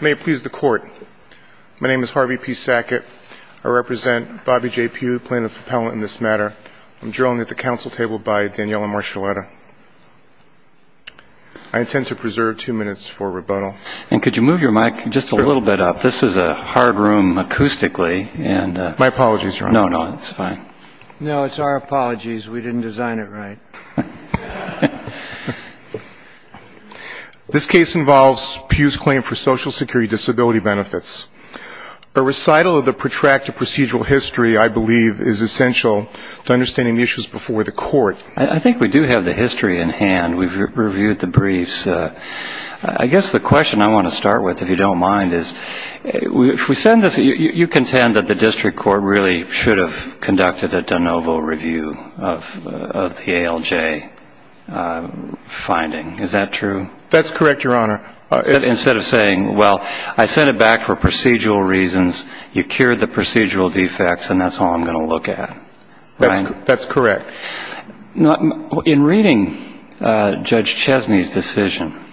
May it please the court. My name is Harvey P. Sackett. I represent Bobby J. Pugh, plaintiff appellant in this matter. I'm adjourned at the council table by Daniella Marschalletta. I intend to preserve two minutes for rebuttal. And could you move your mic just a little bit up? This is a hard room acoustically. My apologies, Your Honor. No, no, it's fine. No, it's our apologies. We didn't design it right. This case involves Pugh's claim for social security disability benefits. A recital of the protracted procedural history, I believe, is essential to understanding the issues before the court. I think we do have the history in hand. We've reviewed the briefs. I guess the question I want to start with, if you don't mind, is you contend that the district court really should have conducted a de novo review of the ALJ finding. Is that true? That's correct, Your Honor. Instead of saying, well, I sent it back for procedural reasons, you cured the procedural defects, and that's all I'm going to look at. That's correct. In reading Judge Chesney's decision,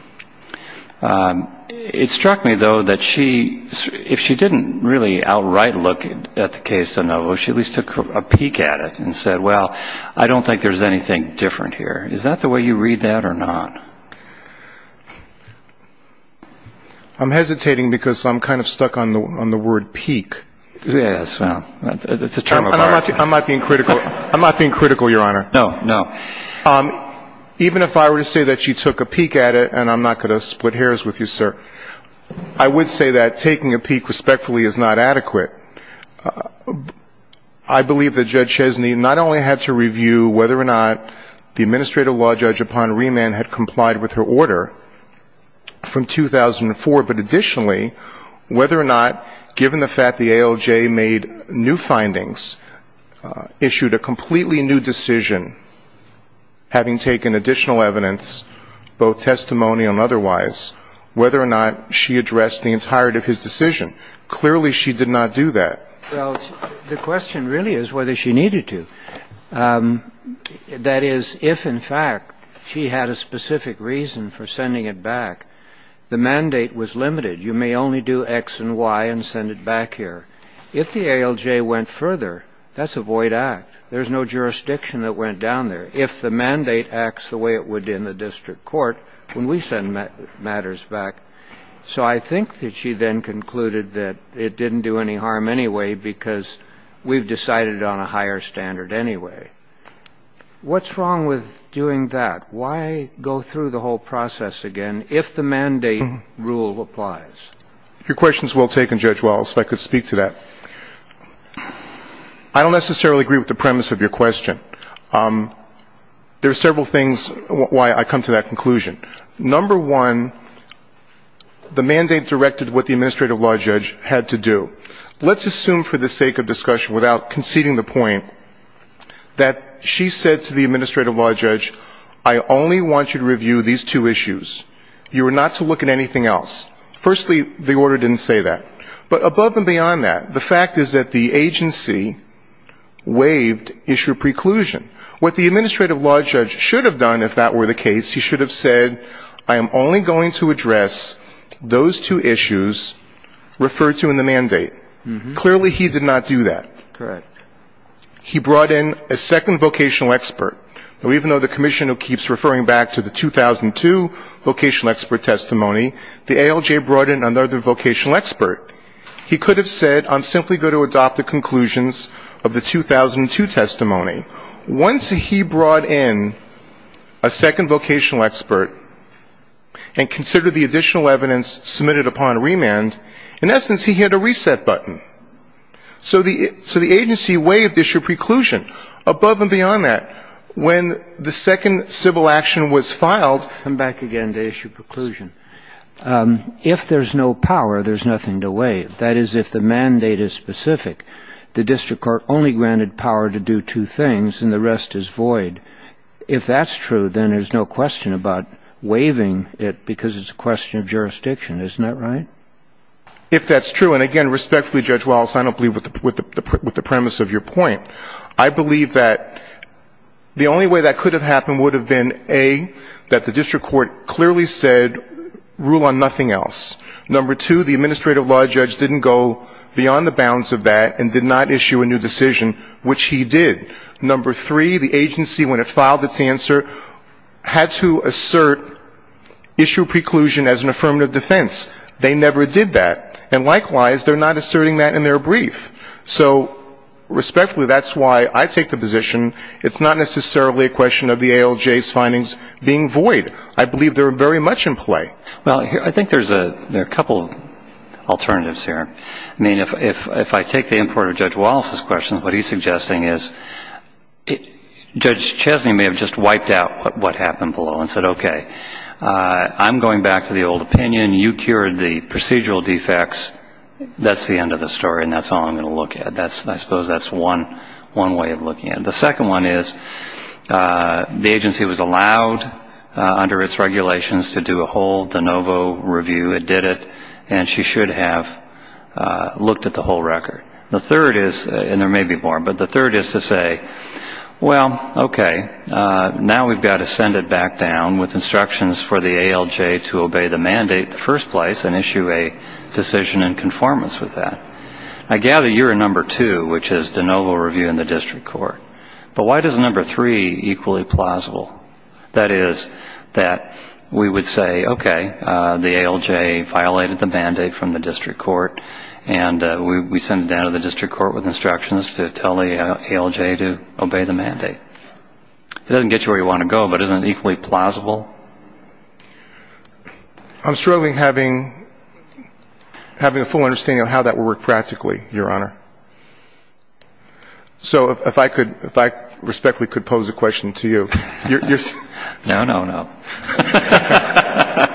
it struck me, though, that if she didn't really outright look at the case de novo, she at least took a peek at it and said, well, I don't think there's anything different here. Is that the way you read that or not? I'm hesitating because I'm kind of stuck on the word peek. I'm not being critical, Your Honor. No, no. Even if I were to say that she took a peek at it, and I'm not going to split hairs with you, sir, I would say that taking a peek respectfully is not adequate. I believe that Judge Chesney not only had to review whether or not the administrative law judge upon remand had complied with her order from 2004, but additionally, whether or not, given the fact the ALJ made new findings, issued a completely new decision, having taken additional evidence, both testimonial and otherwise, whether or not she addressed the entirety of his decision. Clearly, she did not do that. Well, the question really is whether she needed to. That is, if, in fact, she had a specific reason for sending it back, the mandate was limited. You may only do X and Y and send it back here. If the ALJ went further, that's a void act. There's no jurisdiction that went down there. If the mandate acts the way it would in the district court when we send matters back. So I think that she then concluded that it didn't do any harm anyway because we've decided on a higher standard anyway. What's wrong with doing that? Why go through the whole process again if the mandate rule applies? Your question is well taken, Judge Wells, if I could speak to that. I don't necessarily agree with the premise of your question. There are several things why I come to that conclusion. Number one, the mandate directed what the administrative law judge had to do. Let's assume for the sake of discussion without conceding the point that she said to the administrative law judge, I only want you to review these two issues. You are not to look at anything else. Firstly, the order didn't say that. But above and beyond that, the fact is that the agency waived issue preclusion. What the administrative law judge should have done if that were the case, he should have said, I am only going to address those two issues referred to in the mandate. Clearly he did not do that. Correct. He brought in a second vocational expert. Even though the commission keeps referring back to the 2002 vocational expert testimony, the ALJ brought in another vocational expert. He could have said, I'm simply going to adopt the conclusions of the 2002 testimony. Once he brought in a second vocational expert and considered the additional evidence submitted upon remand, in essence he hit a reset button. So the agency waived issue preclusion. Above and beyond that, when the second civil action was filed, I'll come back again to issue preclusion. If there's no power, there's nothing to waive. That is, if the mandate is specific, the district court only granted power to do two things and the rest is void. If that's true, then there's no question about waiving it because it's a question of jurisdiction. Isn't that right? If that's true, and again, respectfully, Judge Wallace, I don't believe with the premise of your point. I believe that the only way that could have happened would have been, A, that the district court clearly said rule on nothing else. Number two, the administrative law judge didn't go beyond the bounds of that and did not issue a new decision, which he did. Number three, the agency, when it filed its answer, had to assert issue preclusion as an affirmative defense. They never did that. And likewise, they're not asserting that in their brief. So respectfully, that's why I take the position it's not necessarily a question of the ALJ's findings being void. I believe they're very much in play. Well, I think there's a couple of alternatives here. I mean, if I take the import of Judge Wallace's question, what he's suggesting is Judge Chesney may have just wiped out what happened below and said, okay, I'm going back to the old opinion. You cured the procedural defects. That's the end of the story, and that's all I'm going to look at. I suppose that's one way of looking at it. The second one is the agency was allowed under its regulations to do a whole de novo review. It did it, and she should have looked at the whole record. The third is, and there may be more, but the third is to say, well, okay, now we've got to send it back down with instructions for the ALJ to obey the mandate in the first place and issue a decision in conformance with that. I gather you're a number two, which is de novo review in the district court. But why does a number three equally plausible? That is, that we would say, okay, the ALJ violated the mandate from the district court, and we send it down to the district court with instructions to tell the ALJ to obey the mandate. It doesn't get you where you want to go, but isn't it equally plausible? I'm struggling having a full understanding of how that would work practically, Your Honor. So if I respectfully could pose a question to you. No, no, no.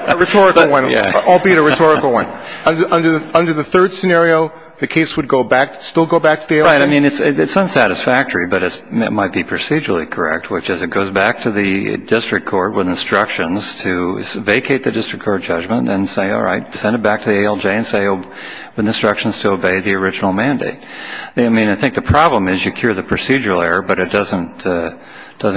A rhetorical one, albeit a rhetorical one. Under the third scenario, the case would go back, still go back to the ALJ? Right. I mean, it's unsatisfactory, but it might be procedurally correct, which is it goes back to the district court with instructions to vacate the district court judgment and say, all right, send it back to the ALJ and say with instructions to obey the original mandate. I mean, I think the problem is you cure the procedural error, but it doesn't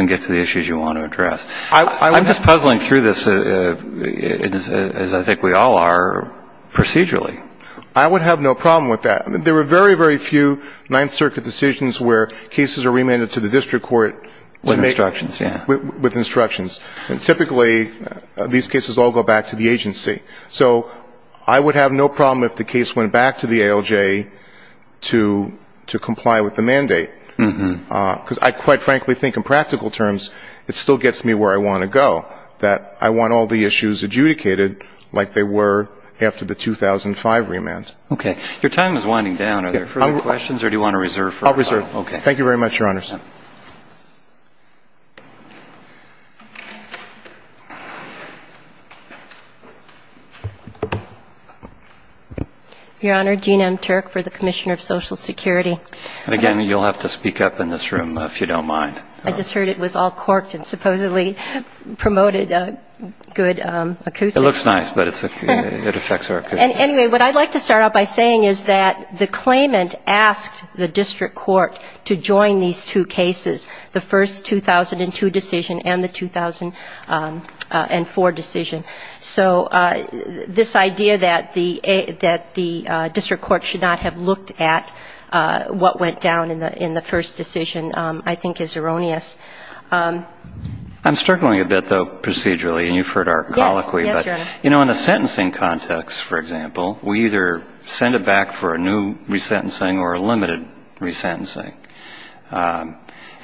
get to the issues you want to address. I'm just puzzling through this, as I think we all are, procedurally. I would have no problem with that. There are very, very few Ninth Circuit decisions where cases are remanded to the district court. With instructions, yeah. With instructions. And typically these cases all go back to the agency. So I would have no problem if the case went back to the ALJ to comply with the mandate, because I quite frankly think in practical terms it still gets me where I want to go, that I want all the issues adjudicated like they were after the 2005 remand. Okay. Your time is winding down. Are there further questions or do you want to reserve? I'll reserve. Okay. Thank you very much, Your Honors. Your Honor, Jeanne M. Turk for the Commissioner of Social Security. And again, you'll have to speak up in this room if you don't mind. I just heard it was all corked and supposedly promoted a good accuser. It looks nice, but it affects our accusers. Anyway, what I'd like to start out by saying is that the claimant asked the district court to join these two cases, the first 2002 decision and the 2004 decision. So this idea that the district court should not have looked at what went down in the first decision I think is erroneous. I'm struggling a bit, though, procedurally, and you've heard our colloquy. Yes, Your Honor. You know, in a sentencing context, for example, we either send it back for a new resentencing or a limited resentencing.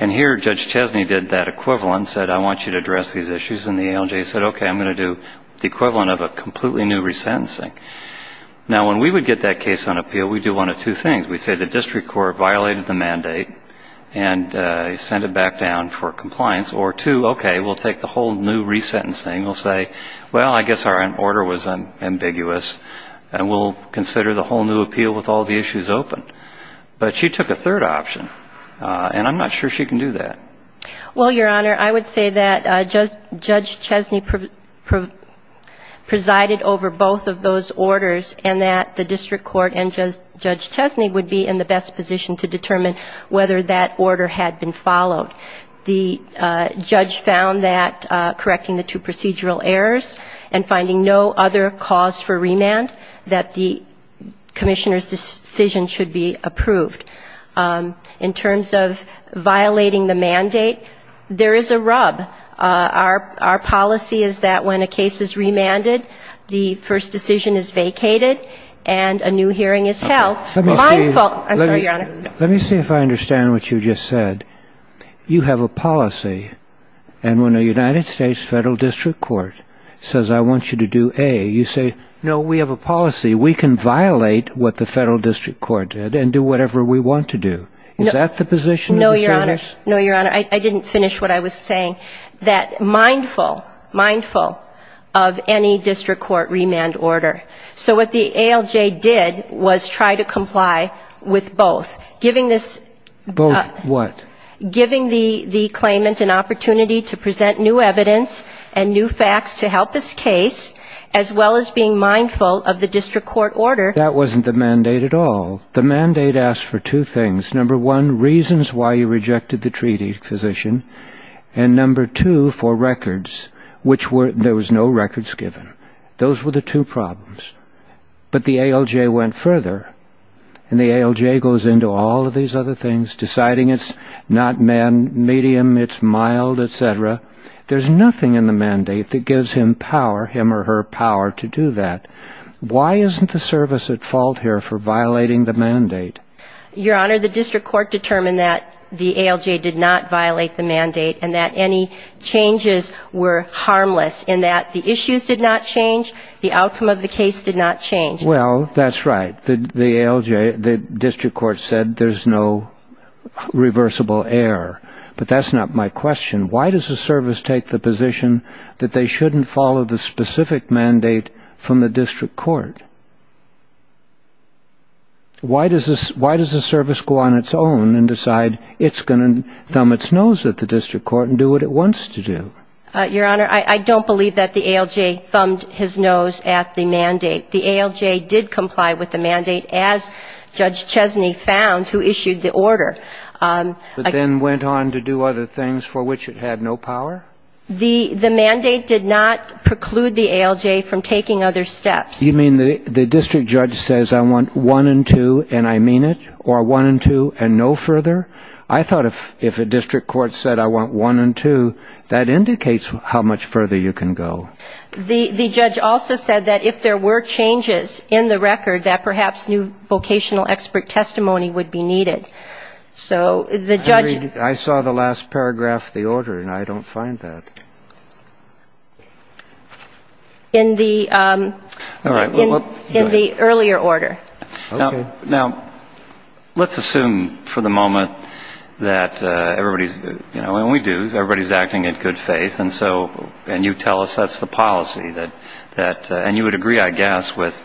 And here Judge Chesney did that equivalent and said, I want you to address these issues. And the ALJ said, OK, I'm going to do the equivalent of a completely new resentencing. Now, when we would get that case on appeal, we'd do one of two things. We'd say the district court violated the mandate and sent it back down for compliance. Or two, OK, we'll take the whole new resentencing. We'll say, well, I guess our order was ambiguous, and we'll consider the whole new appeal with all the issues open. But she took a third option, and I'm not sure she can do that. Well, Your Honor, I would say that Judge Chesney presided over both of those orders and that the district court and Judge Chesney would be in the best position to determine whether that order had been followed. The judge found that correcting the two procedural errors and finding no other cause for remand, that the commissioner's decision should be approved. In terms of violating the mandate, there is a rub. Our policy is that when a case is remanded, the first decision is vacated and a new hearing is held. Let me see if I understand what you just said. You have a policy, and when a United States federal district court says, I want you to do A, you say, no, we have a policy. We can violate what the federal district court did and do whatever we want to do. Is that the position of the commissioners? No, Your Honor. I didn't finish what I was saying, that mindful, mindful of any district court remand order. So what the ALJ did was try to comply with both. Both what? Giving the claimant an opportunity to present new evidence and new facts to help his case, as well as being mindful of the district court order. That wasn't the mandate at all. The mandate asked for two things. Number one, reasons why you rejected the treaty position. And number two, for records, which were, there was no records given. Those were the two problems. But the ALJ went further. And the ALJ goes into all of these other things, deciding it's not medium, it's mild, et cetera. There's nothing in the mandate that gives him power, him or her power to do that. Why isn't the service at fault here for violating the mandate? Your Honor, the district court determined that the ALJ did not violate the mandate and that any changes were harmless in that the issues did not change, the outcome of the case did not change. Well, that's right. The ALJ, the district court said there's no reversible error. But that's not my question. Why does the service take the position that they shouldn't follow the specific mandate from the district court? Why does the service go on its own and decide it's going to thumb its nose at the district court and do what it wants to do? Your Honor, I don't believe that the ALJ thumbed his nose at the mandate. The ALJ did comply with the mandate, as Judge Chesney found, who issued the order. But then went on to do other things for which it had no power? The mandate did not preclude the ALJ from taking other steps. You mean the district judge says I want one and two and I mean it, or one and two and no further? I thought if a district court said I want one and two, that indicates how much further you can go. The judge also said that if there were changes in the record, that perhaps new vocational expert testimony would be needed. So the judge ---- I saw the last paragraph of the order, and I don't find that. In the earlier order. Okay. Now, let's assume for the moment that everybody's, you know, and we do, everybody's acting in good faith. And so, and you tell us that's the policy. And you would agree, I guess, with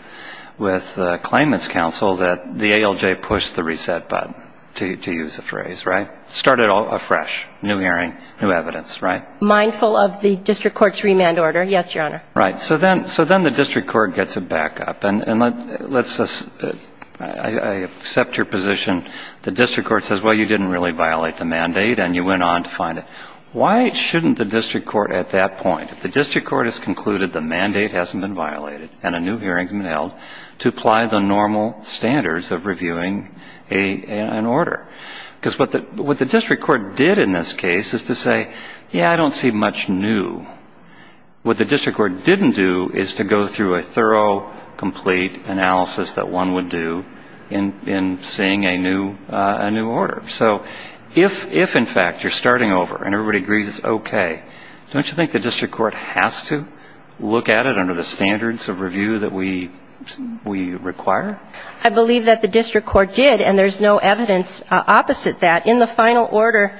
the claimants' counsel that the ALJ pushed the reset button, to use the phrase, right? Started afresh. New hearing, new evidence, right? Mindful of the district court's remand order, yes, Your Honor. Right. So then the district court gets a backup. And let's just ---- I accept your position. The district court says, well, you didn't really violate the mandate, and you went on to find it. Why shouldn't the district court at that point, if the district court has concluded the mandate hasn't been violated, and a new hearing's been held, to apply the normal standards of reviewing an order? Because what the district court did in this case is to say, yeah, I don't see much new. What the district court didn't do is to go through a thorough, complete analysis that one would do in seeing a new order. So if, in fact, you're starting over and everybody agrees it's okay, don't you think the district court has to look at it under the standards of review that we require? I believe that the district court did, and there's no evidence opposite that. In the final order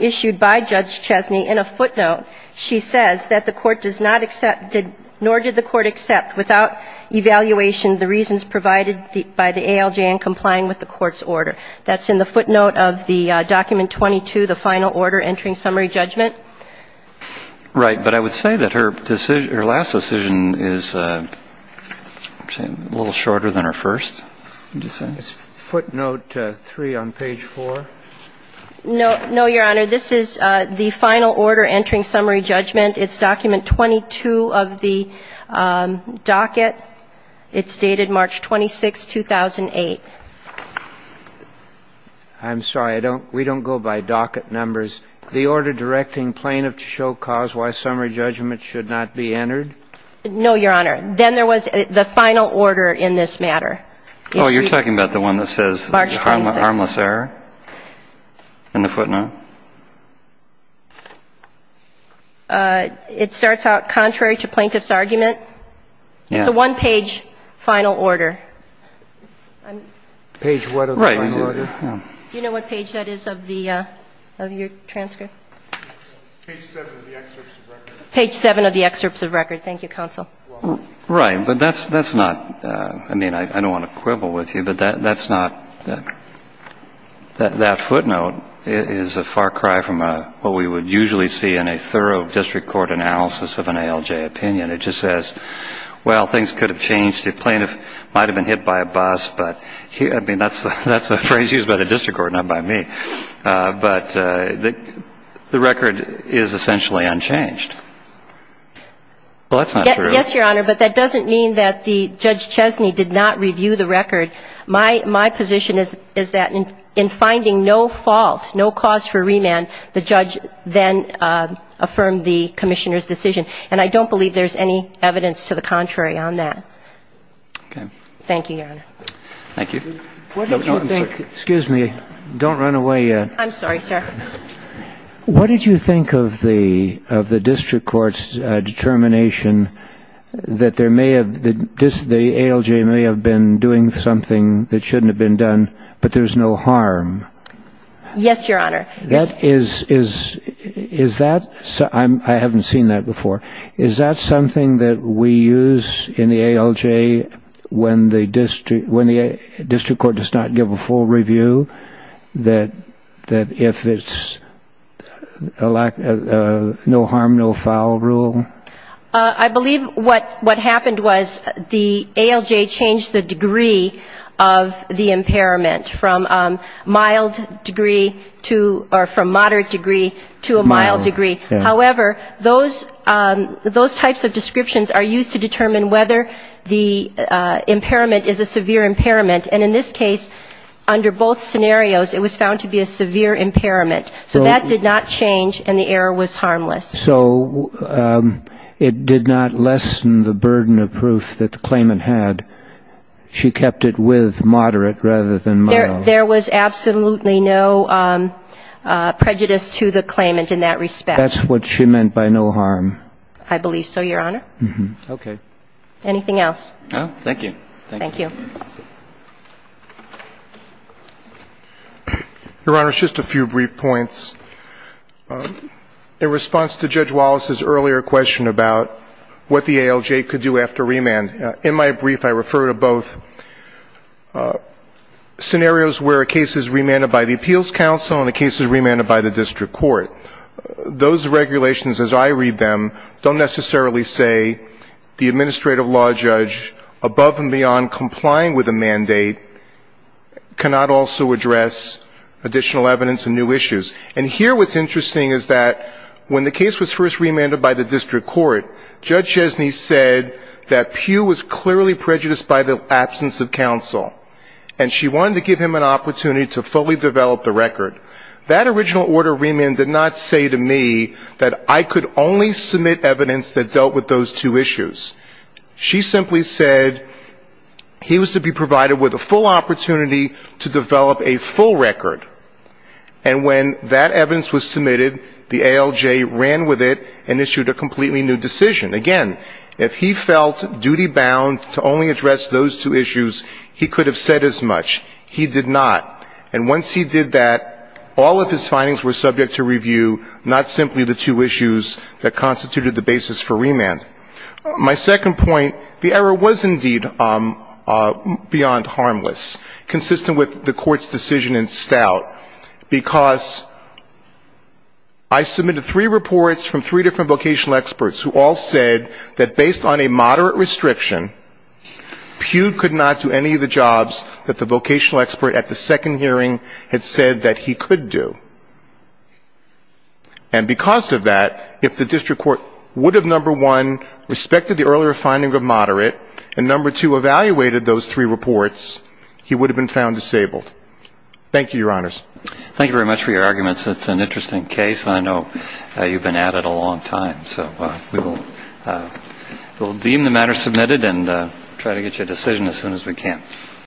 issued by Judge Chesney, in a footnote, she says that the court does not accept, nor did the court accept without evaluation the reasons provided by the ALJ in complying with the court's order. That's in the footnote of the document 22, the final order entering summary judgment. Right. But I would say that her last decision is a little shorter than her first. Footnote 3 on page 4. No, Your Honor. This is the final order entering summary judgment. It's document 22 of the docket. It's dated March 26, 2008. I'm sorry. We don't go by docket numbers. The order directing plaintiff to show cause why summary judgment should not be entered? No, Your Honor. Then there was the final order in this matter. Oh, you're talking about the one that says harmless error in the footnote? It starts out contrary to plaintiff's argument. Yes. So one page final order. Page what of the final order? Right. Do you know what page that is of the, of your transcript? Page 7 of the excerpts of record. Page 7 of the excerpts of record. Thank you, counsel. Right. But that's not, I mean, I don't want to quibble with you, but that's not, that footnote is a far cry from what we would usually see in a thorough district court analysis of an ALJ opinion. It just says, well, things could have changed. The plaintiff might have been hit by a bus. But, I mean, that's a phrase used by the district court, not by me. But the record is essentially unchanged. Well, that's not true. Yes, Your Honor. But that doesn't mean that Judge Chesney did not review the record. My position is that in finding no fault, no cause for remand, the judge then affirmed the commissioner's decision. And I don't believe there's any evidence to the contrary on that. Okay. Thank you, Your Honor. Thank you. No, I'm sorry. Excuse me. Don't run away yet. I'm sorry, sir. What did you think of the, of the district court's determination that there may have, the ALJ may have been doing something that shouldn't have been done, but there's no harm? Yes, Your Honor. That is, is, is that, I haven't seen that before. Is that something that we use in the ALJ when the district, when the district court does not give a full review? That, that if it's a lack, no harm, no foul rule? I believe what, what happened was the ALJ changed the degree of the impairment from mild degree to, or from moderate degree to a mild degree. However, those, those types of descriptions are used to determine whether the impairment is a severe impairment. And in this case, under both scenarios, it was found to be a severe impairment. So that did not change and the error was harmless. So it did not lessen the burden of proof that the claimant had. She kept it with moderate rather than mild. There, there was absolutely no prejudice to the claimant in that respect. That's what she meant by no harm. I believe so, Your Honor. Okay. Anything else? No, thank you. Thank you. Your Honor, just a few brief points. In response to Judge Wallace's earlier question about what the ALJ could do after remand, in my brief I refer to both scenarios where a case is remanded by the appeals council and a case is remanded by the district court. Those regulations as I read them don't necessarily say the administrative law judge above and beyond complying with a mandate cannot also address additional evidence and new issues. And here what's interesting is that when the case was first remanded by the district court, Judge Jesny said that Pugh was clearly prejudiced by the absence of counsel and she wanted to give him an opportunity to fully develop the record. That original order of remand did not say to me that I could only submit evidence that dealt with those two issues. She simply said he was to be provided with a full opportunity to develop a full record. And when that evidence was submitted, the ALJ ran with it and issued a completely new decision. Again, if he felt duty-bound to only address those two issues, he could have said as much. He did not. And once he did that, all of his findings were subject to review, not simply the two issues that constituted the basis for remand. My second point, the error was indeed beyond harmless, consistent with the court's decision in Stout. Because I submitted three reports from three different vocational experts who all said that based on a moderate restriction, Pugh could not do any of the jobs that the vocational expert at the second hearing had said that he could do. And because of that, if the district court would have, number one, respected the earlier finding of moderate and, number two, evaluated those three reports, he would have been found disabled. Thank you, Your Honors. Thank you very much for your arguments. It's an interesting case, and I know you've been at it a long time. So we will deem the matter submitted and try to get you a decision as soon as we can.